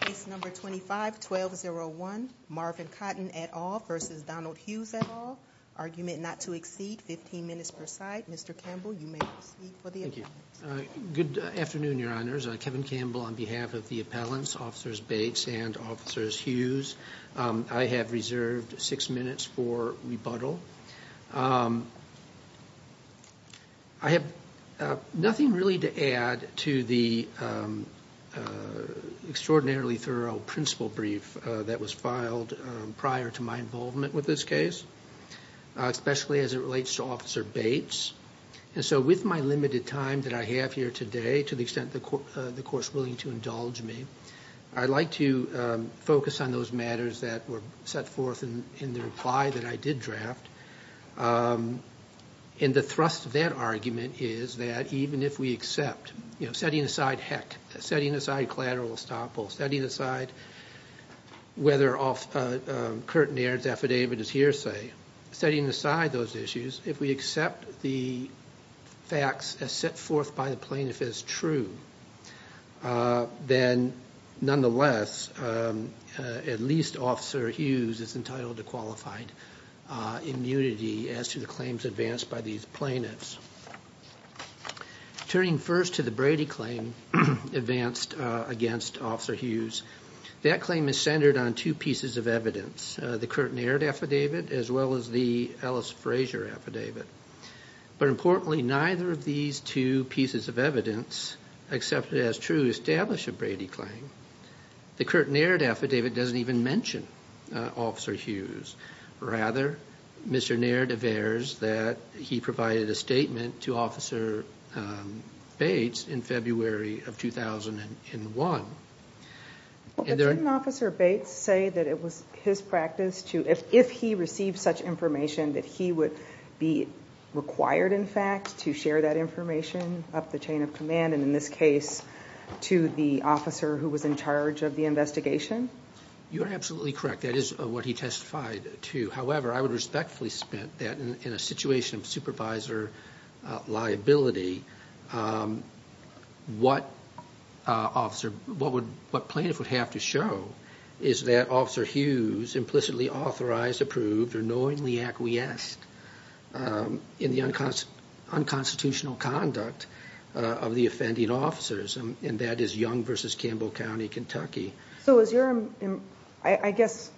Case number 25-1201 Marvin Cotton et al. v. Donald Hughes et al. Argument not to exceed 15 minutes per side. Mr. Campbell, you may proceed for the appellants. Good afternoon, Your Honors. Kevin Campbell on behalf of the appellants, Officers Bates and Officers Hughes. I have reserved 6 minutes for rebuttal. I have nothing really to add to the extraordinarily thorough principle brief that was filed prior to my involvement with this case, especially as it relates to Officer Bates. And so with my limited time that I have here today, to the extent the Court is willing to indulge me, I'd like to focus on those matters that were set forth in the reply that I did draft. And the thrust of that argument is that even if we accept, you know, setting aside Heck, setting aside collateral estoppel, setting aside whether Curt Naird's affidavit is hearsay, setting aside those issues, if we accept the facts as set forth by the plaintiff as true, then nonetheless, at least Officer Hughes is entitled to qualified immunity as to the claims advanced by these plaintiffs. Turning first to the Brady claim advanced against Officer Hughes, that claim is centered on two pieces of evidence, the Curt Naird affidavit as well as the Ellis Frazier affidavit. But importantly, neither of these two pieces of evidence accepted as true establish a Brady claim. The Curt Naird affidavit doesn't even mention Officer Hughes. Rather, Mr. Naird averts that he provided a statement to Officer Bates in February of 2001. Didn't Officer Bates say that it was his practice to, if he received such information, that he would be required, in fact, to share that information up the chain of command, and in this case, to the officer who was in charge of the investigation? You are absolutely correct. That is what he testified to. However, I would respectfully submit that in a situation of supervisor liability, what plaintiff would have to show is that Officer Hughes implicitly authorized, approved, or knowingly acquiesced in the unconstitutional conduct of the offending officers, and that is Young v. Campbell County, Kentucky. I guess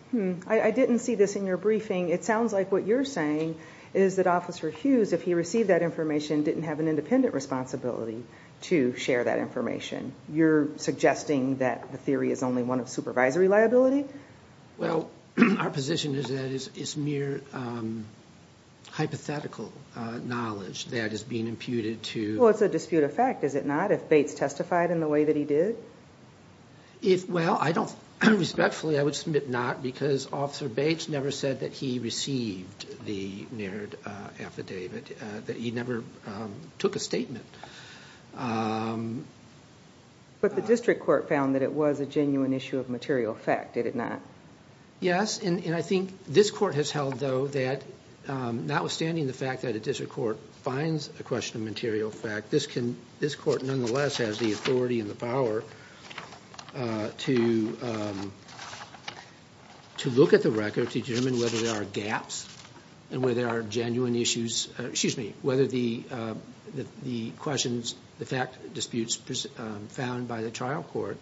I didn't see this in your briefing. It sounds like what you're saying is that Officer Hughes, if he received that information, didn't have an independent responsibility to share that information. You're suggesting that the theory is only one of supervisory liability? Well, our position is that it's mere hypothetical knowledge that is being imputed to... Well, it's a dispute of fact, is it not, if Bates testified in the way that he did? Well, respectfully, I would submit not, because Officer Bates never said that he received the Naird affidavit, that he never took a statement. But the district court found that it was a genuine issue of material fact, did it not? Yes, and I think this court has held, though, that notwithstanding the fact that a district court finds a question of material fact, this court nonetheless has the authority and the power to look at the record to determine whether there are gaps and whether there are genuine issues, excuse me, whether the questions, the fact disputes found by the trial court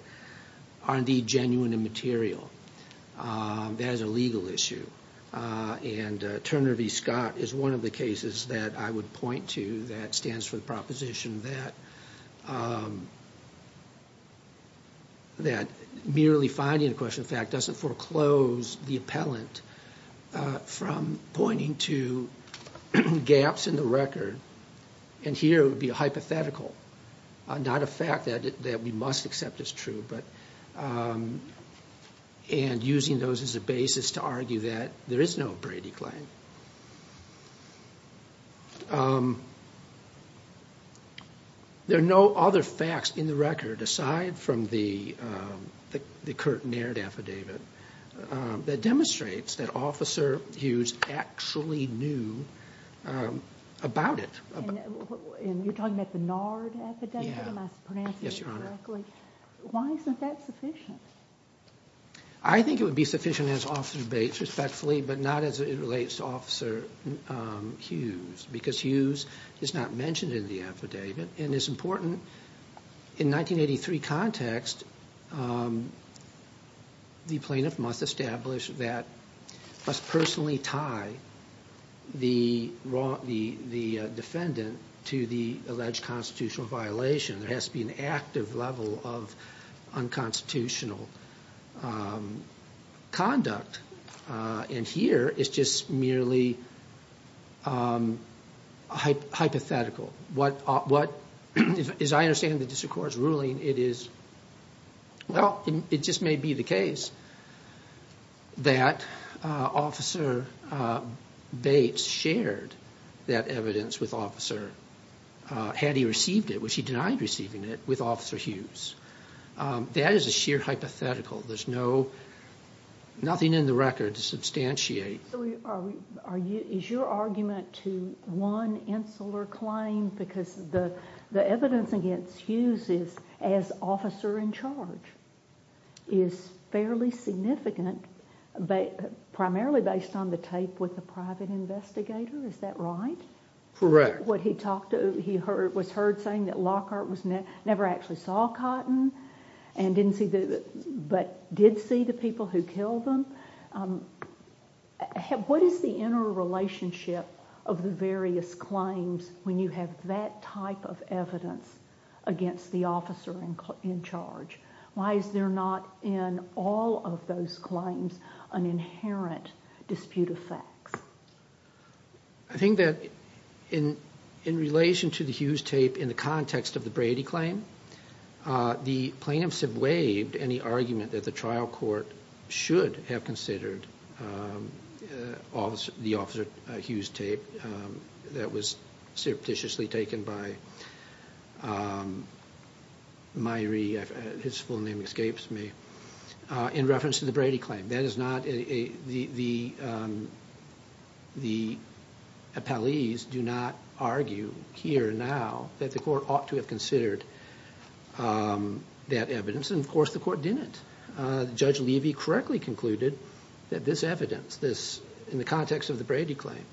are indeed genuine and material. That is a legal issue, and Turner v. Scott is one of the cases that I would point to that stands for the proposition that merely finding a question of fact doesn't foreclose the appellant from pointing to gaps in the record, and here it would be a hypothetical, not a fact that we must accept as true, and using those as a basis to argue that there is no Brady claim. There are no other facts in the record, aside from the Curt Naird affidavit, that demonstrates that Officer Hughes actually knew about it. And you're talking about the Naird affidavit? Yeah. Am I pronouncing it correctly? Why isn't that sufficient? I think it would be sufficient as Officer Bates respectfully, but not as it relates to Officer Hughes, because Hughes is not mentioned in the affidavit and is important. In 1983 context, the plaintiff must establish that must personally tie the defendant to the alleged constitutional violation. There has to be an active level of unconstitutional conduct, and here it's just merely hypothetical. What, as I understand it in the district court's ruling, it is, well, it just may be the case that Officer Bates shared that evidence with Officer, had he received it, which he denied receiving it, with Officer Hughes. That is a sheer hypothetical. There's nothing in the record to substantiate. So is your argument to one insular claim, because the evidence against Hughes as officer in charge is fairly significant, primarily based on the tape with the private investigator, is that right? Correct. What he talked to, he was heard saying that Lockhart never actually saw Cotton but did see the people who killed him. What is the interrelationship of the various claims when you have that type of evidence against the officer in charge? Why is there not in all of those claims an inherent dispute of facts? I think that in relation to the Hughes tape in the context of the Brady claim, the plaintiffs have waived any argument that the trial court should have considered the Officer Hughes tape that was surreptitiously taken by Myrie, his full name escapes me, in reference to the Brady claim. The appellees do not argue here now that the court ought to have considered that evidence, and of course the court didn't. Judge Levy correctly concluded that this evidence, in the context of the Brady claim,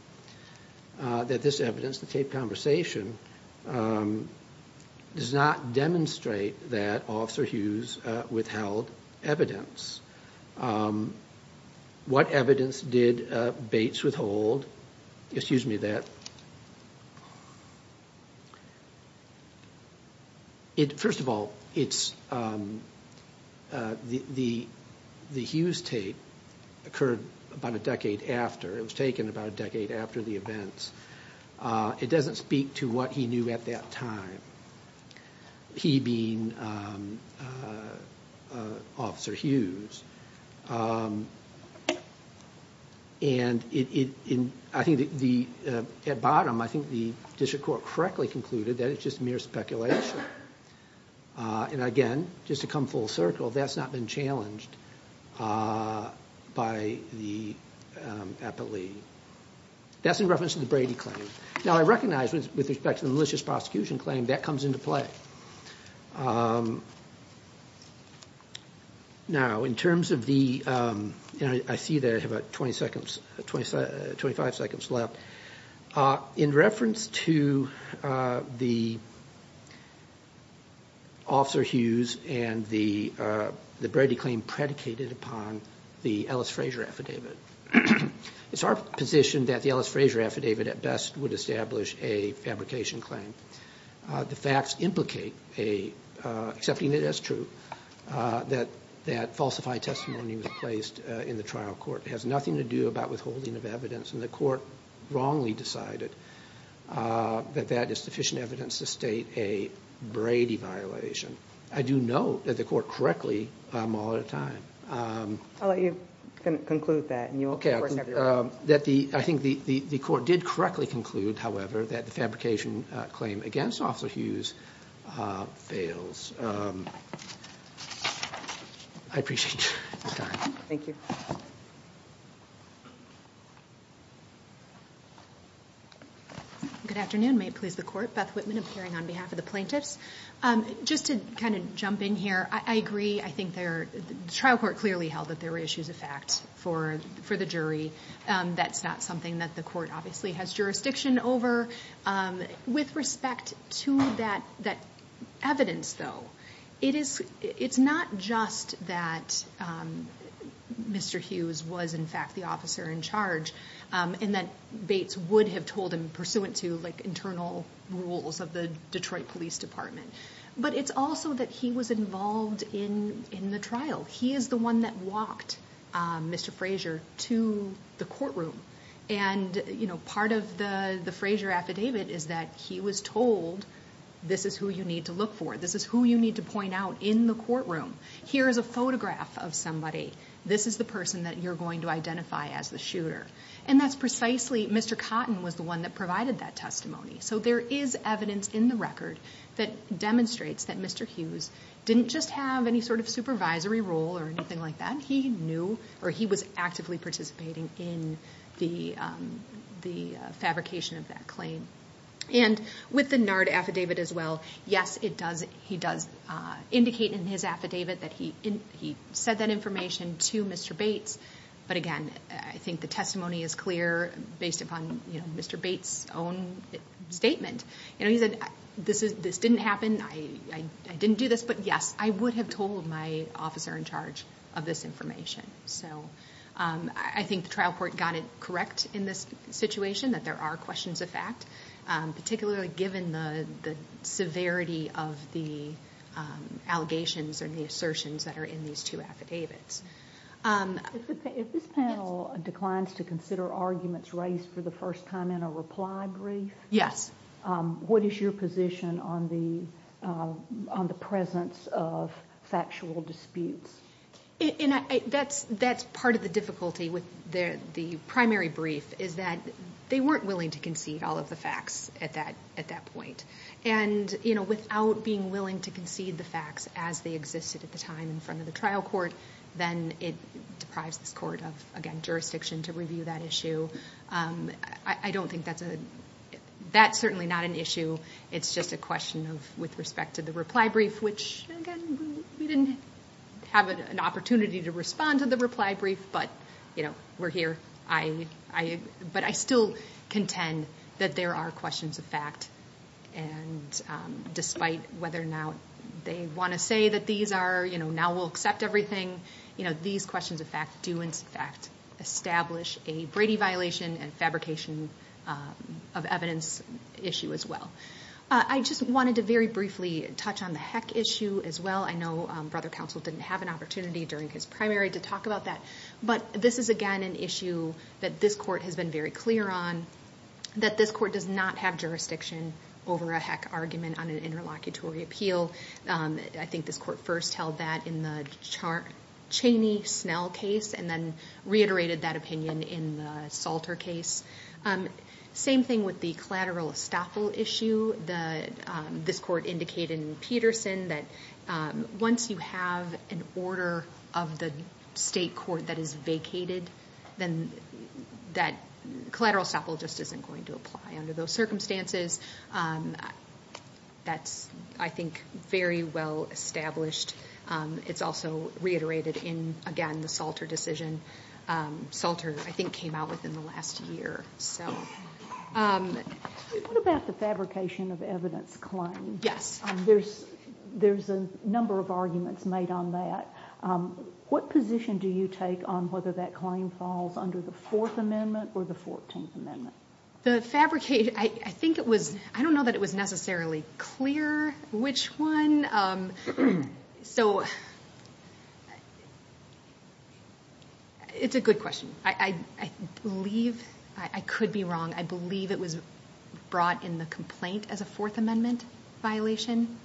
that this evidence, the tape conversation, does not demonstrate that Officer Hughes withheld evidence. What evidence did Bates withhold? First of all, the Hughes tape occurred about a decade after, it was taken about a decade after the events. It doesn't speak to what he knew at that time, he being Officer Hughes. At bottom, I think the district court correctly concluded that it's just mere speculation. Again, just to come full circle, that's not been challenged by the appellee. That's in reference to the Brady claim. Now, I recognize with respect to the malicious prosecution claim, that comes into play. Now, in terms of the, I see that I have about 25 seconds left, in reference to the Officer Hughes and the Brady claim predicated upon the Ellis Frazier affidavit, it's our position that the Ellis Frazier affidavit at best would establish a fabrication claim. The facts implicate, accepting it as true, that that falsified testimony was placed in the trial court. It has nothing to do with withholding of evidence, and the court wrongly decided that that is sufficient evidence to state a Brady violation. I do note that the court correctly, I'm all out of time. I'll let you conclude that. I think the court did correctly conclude, however, that the fabrication claim against Officer Hughes fails. I appreciate your time. Thank you. Good afternoon, may it please the court. Beth Whitman appearing on behalf of the plaintiffs. Just to kind of jump in here, I agree, I think the trial court clearly held that there were issues of fact for the jury. That's not something that the court obviously has jurisdiction over. With respect to that evidence though, it's not just that Mr. Hughes was in fact the officer in charge, and that Bates would have told him pursuant to internal rules of the Detroit Police Department. But it's also that he was involved in the trial. He is the one that walked Mr. Frazier to the courtroom, and part of the Frazier affidavit is that he was told, this is who you need to look for, this is who you need to point out in the courtroom. Here is a photograph of somebody. This is the person that you're going to identify as the shooter. And that's precisely, Mr. Cotton was the one that provided that testimony. So there is evidence in the record that demonstrates that Mr. Hughes didn't just have any sort of supervisory role or anything like that. He knew, or he was actively participating in the fabrication of that claim. And with the NARD affidavit as well, yes, he does indicate in his affidavit that he said that information to Mr. Bates. But again, I think the testimony is clear based upon Mr. Bates' own statement. He said, this didn't happen, I didn't do this, but yes, I would have told my officer in charge of this information. So I think the trial court got it correct in this situation that there are questions of fact, particularly given the severity of the allegations and the assertions that are in these two affidavits. If this panel declines to consider arguments raised for the first time in a reply brief, what is your position on the presence of factual disputes? That's part of the difficulty with the primary brief, is that they weren't willing to concede all of the facts at that point. And without being willing to concede the facts as they existed at the time in front of the trial court, then it deprives this court of, again, jurisdiction to review that issue. I don't think that's a, that's certainly not an issue. It's just a question with respect to the reply brief, which, again, we didn't have an opportunity to respond to the reply brief, but we're here. But I still contend that there are questions of fact. And despite whether or not they want to say that these are, you know, now we'll accept everything, these questions of fact do in fact establish a Brady violation and fabrication of evidence issue as well. I just wanted to very briefly touch on the heck issue as well. I know Brother Counsel didn't have an opportunity during his primary to talk about that. But this is, again, an issue that this court has been very clear on, that this court does not have jurisdiction over a heck argument on an interlocutory appeal. I think this court first held that in the Cheney-Snell case and then reiterated that opinion in the Salter case. Same thing with the collateral estoppel issue. This court indicated in Peterson that once you have an order of the state court that is vacated, then that collateral estoppel just isn't going to apply under those circumstances. That's, I think, very well established. It's also reiterated in, again, the Salter decision. Salter, I think, came out within the last year. What about the fabrication of evidence claim? Yes. There's a number of arguments made on that. What position do you take on whether that claim falls under the Fourth Amendment or the Fourteenth Amendment? The fabrication, I don't know that it was necessarily clear which one. So it's a good question. I believe I could be wrong. I believe it was brought in the complaint as a Fourth Amendment violation.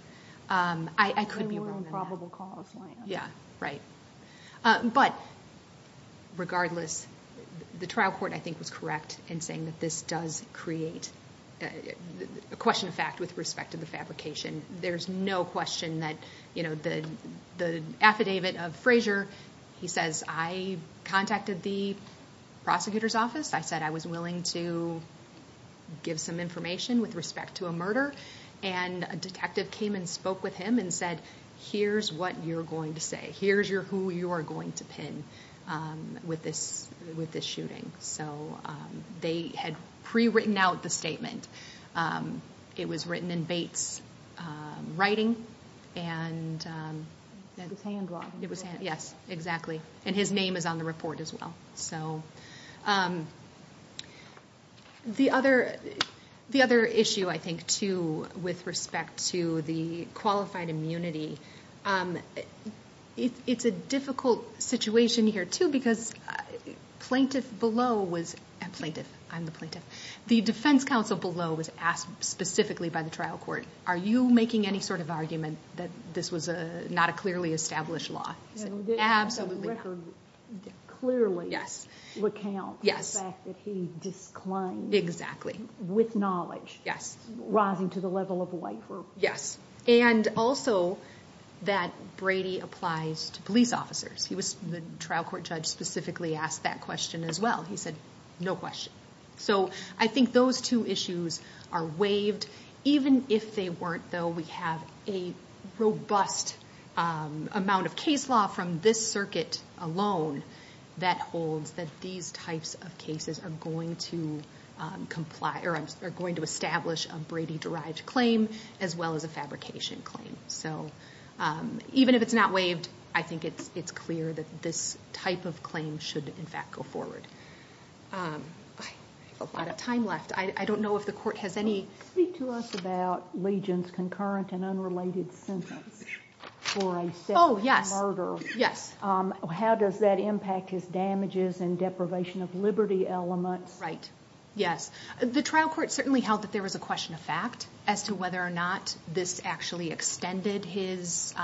I could be wrong on that. There were improbable cause lines. Yeah, right. But regardless, the trial court, I think, was correct in saying that this does create a question of fact with respect to the fabrication. There's no question that the affidavit of Frazier, he says, I contacted the prosecutor's office. I said I was willing to give some information with respect to a murder. And a detective came and spoke with him and said, here's what you're going to say. Here's who you are going to pin with this shooting. So they had pre-written out the statement. It was written in Bates' writing. It was hand-drawn. Yes, exactly. And his name is on the report as well. The other issue, I think, too, with respect to the qualified immunity, it's a difficult situation here, too, because the defense counsel below was asked specifically by the trial court, are you making any sort of argument that this was not a clearly established law? Absolutely not. It clearly recounts the fact that he disclaimed with knowledge, rising to the level of a waiver. Yes, and also that Brady applies to police officers. The trial court judge specifically asked that question as well. He said, no question. So I think those two issues are waived. Even if they weren't, though, we have a robust amount of case law from this circuit alone that holds that these types of cases are going to establish a Brady-derived claim as well as a fabrication claim. Even if it's not waived, I think it's clear that this type of claim should, in fact, go forward. I have a lot of time left. I don't know if the court has any... Speak to us about Legion's concurrent and unrelated sentence for a sexual murder. How does that impact his damages and deprivation of liberty elements? Right, yes. The trial court certainly held that there was a question of fact as to whether or not this actually extended his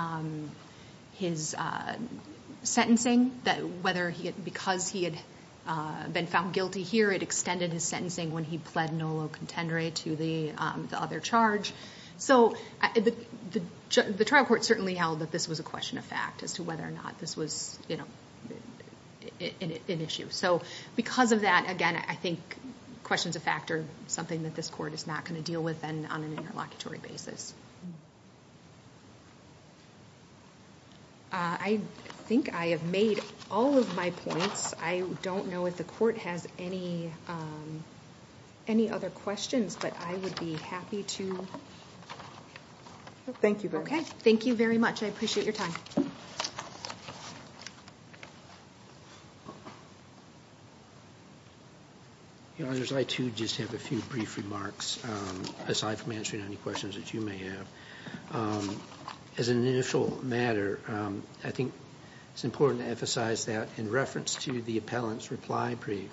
sentencing. Because he had been found guilty here, it extended his sentencing when he pled nolo contendere to the other charge. So the trial court certainly held that this was a question of fact as to whether or not this was an issue. So because of that, again, I think questions of fact are something that this court is not going to deal with on an interlocutory basis. I think I have made all of my points. I don't know if the court has any other questions, but I would be happy to... Thank you very much. Thank you very much. I appreciate your time. I, too, just have a few brief remarks, aside from answering any questions that you may have. As an initial matter, I think it's important to emphasize that in reference to the appellant's reply brief,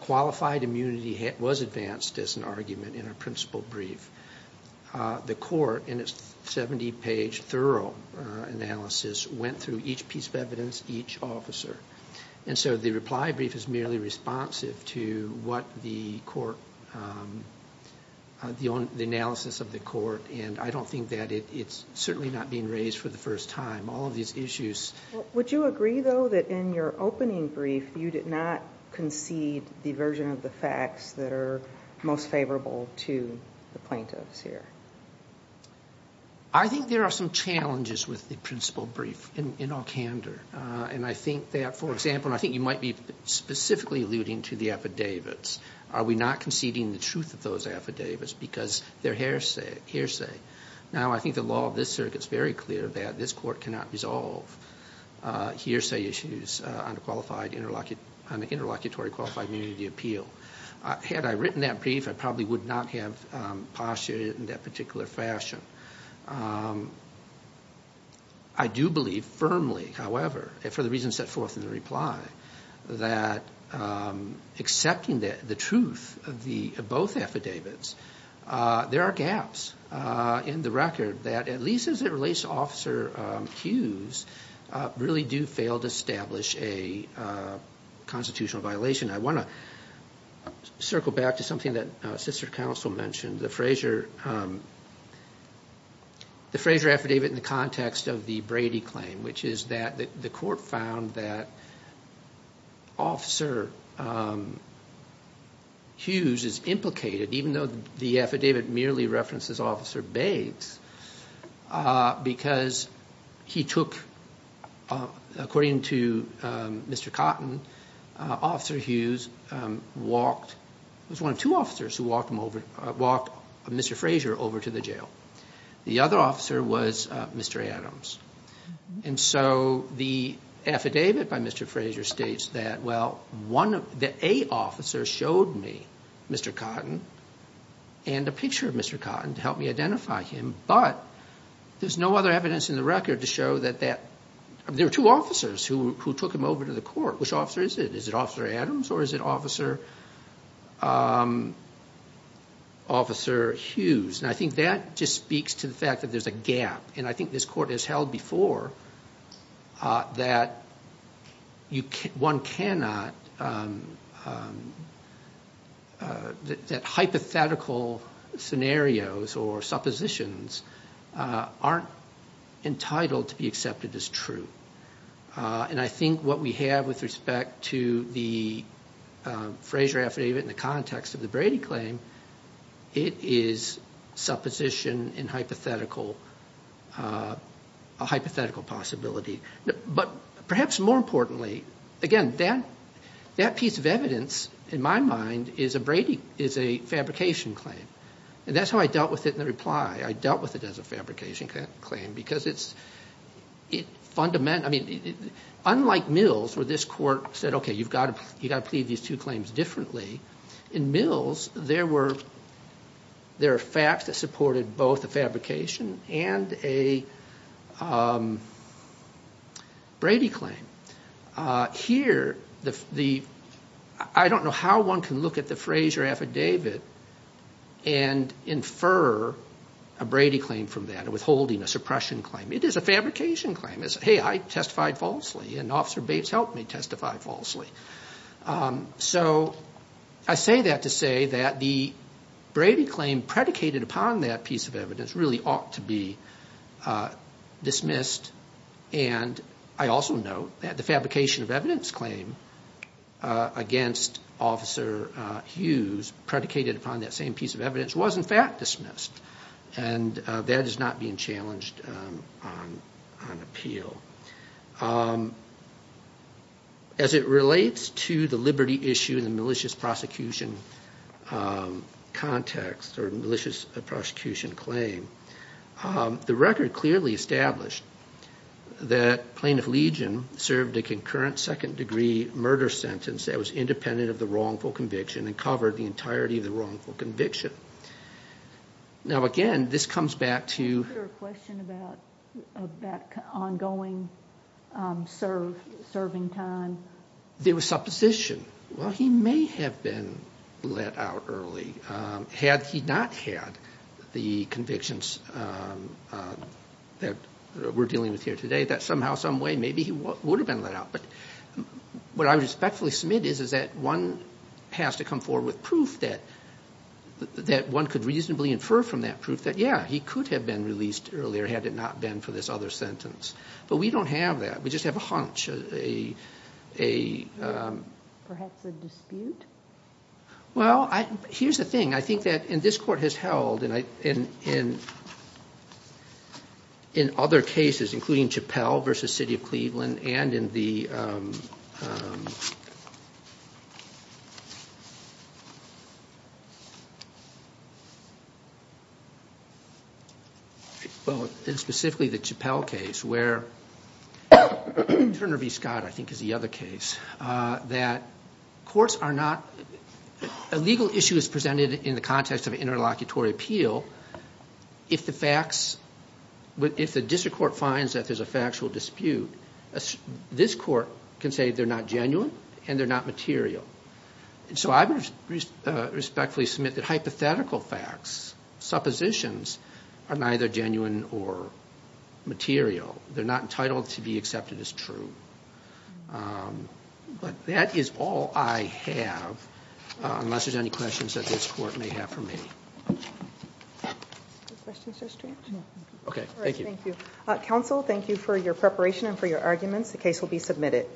qualified immunity was advanced as an argument in a principal brief. The court, in its 70-page thorough analysis, went through each piece of evidence, each officer. And so the reply brief is merely responsive to the analysis of the court, and I don't think that it's certainly not being raised for the first time. All of these issues... Would you agree, though, that in your opening brief you did not concede the version of the facts that are most favorable to the plaintiffs here? I think there are some challenges with the principal brief in all candor. And I think that, for example, and I think you might be specifically alluding to the affidavits, are we not conceding the truth of those affidavits because they're hearsay? Now, I think the law of this circuit is very clear that this court cannot resolve hearsay issues on the interlocutory qualified immunity appeal. Had I written that brief, I probably would not have postulated it in that particular fashion. I do believe firmly, however, for the reasons set forth in the reply, that accepting the truth of both affidavits, there are gaps in the record that, at least as it relates to Officer Hughes, really do fail to establish a constitutional violation. I want to circle back to something that Sister Counsel mentioned, the Frazier affidavit in the context of the Brady claim, which is that the court found that Officer Hughes is implicated, even though the affidavit merely references Officer Bates, because he took, according to Mr. Cotton, Officer Hughes walked, it was one of two officers who walked Mr. Frazier over to the jail. The other officer was Mr. Adams. And so the affidavit by Mr. Frazier states that, well, the A officer showed me Mr. Cotton and a picture of Mr. Cotton to help me identify him, but there's no other evidence in the record to show that there were two officers who took him over to the court. Which officer is it? Is it Officer Adams or is it Officer Hughes? And I think that just speaks to the fact that there's a gap. And I think this court has held before that one cannot, that hypothetical scenarios or suppositions aren't entitled to be accepted as true. And I think what we have with respect to the Frazier affidavit in the context of the Brady claim, it is supposition and hypothetical possibility. But perhaps more importantly, again, that piece of evidence, in my mind, is a fabrication claim. And that's how I dealt with it in the reply. I dealt with it as a fabrication claim, because it's fundamental. Unlike Mills, where this court said, okay, you've got to plead these two claims differently, in Mills there were facts that supported both the fabrication and a Brady claim. Here, I don't know how one can look at the Frazier affidavit and infer a Brady claim from that, a withholding, a suppression claim. It is a fabrication claim. It's, hey, I testified falsely and Officer Bates helped me testify falsely. So I say that to say that the Brady claim predicated upon that piece of evidence really ought to be dismissed. And I also note that the fabrication of evidence claim against Officer Hughes, predicated upon that same piece of evidence, was in fact dismissed. And that is not being challenged on appeal. As it relates to the liberty issue in the malicious prosecution context, or malicious prosecution claim, the record clearly established that Plaintiff Legion served a concurrent second-degree murder sentence that was independent of the wrongful conviction and covered the entirety of the wrongful conviction. Now, again, this comes back to- serving time. There was supposition. Well, he may have been let out early. Had he not had the convictions that we're dealing with here today, that somehow, someway, maybe he would have been let out. But what I would respectfully submit is that one has to come forward with proof that one could reasonably infer from that proof that, yeah, he could have been released earlier had it not been for this other sentence. But we don't have that. We just have a hunch, a- Perhaps a dispute? Well, here's the thing. I think that, and this Court has held, in other cases, including Chappell v. City of Cleveland, and in the- well, and specifically the Chappell case where- Turner v. Scott, I think, is the other case- that courts are not- a legal issue is presented in the context of an interlocutory appeal if the facts- if the district court finds that there's a factual dispute, this court can say they're not genuine and they're not material. And so I would respectfully submit that hypothetical facts, suppositions, are neither genuine or material. They're not entitled to be accepted as true. But that is all I have, unless there's any questions that this Court may have for me. Questions, Judge Strang? No. Okay, thank you. Thank you. Counsel, thank you for your preparation and for your arguments. The case will be submitted.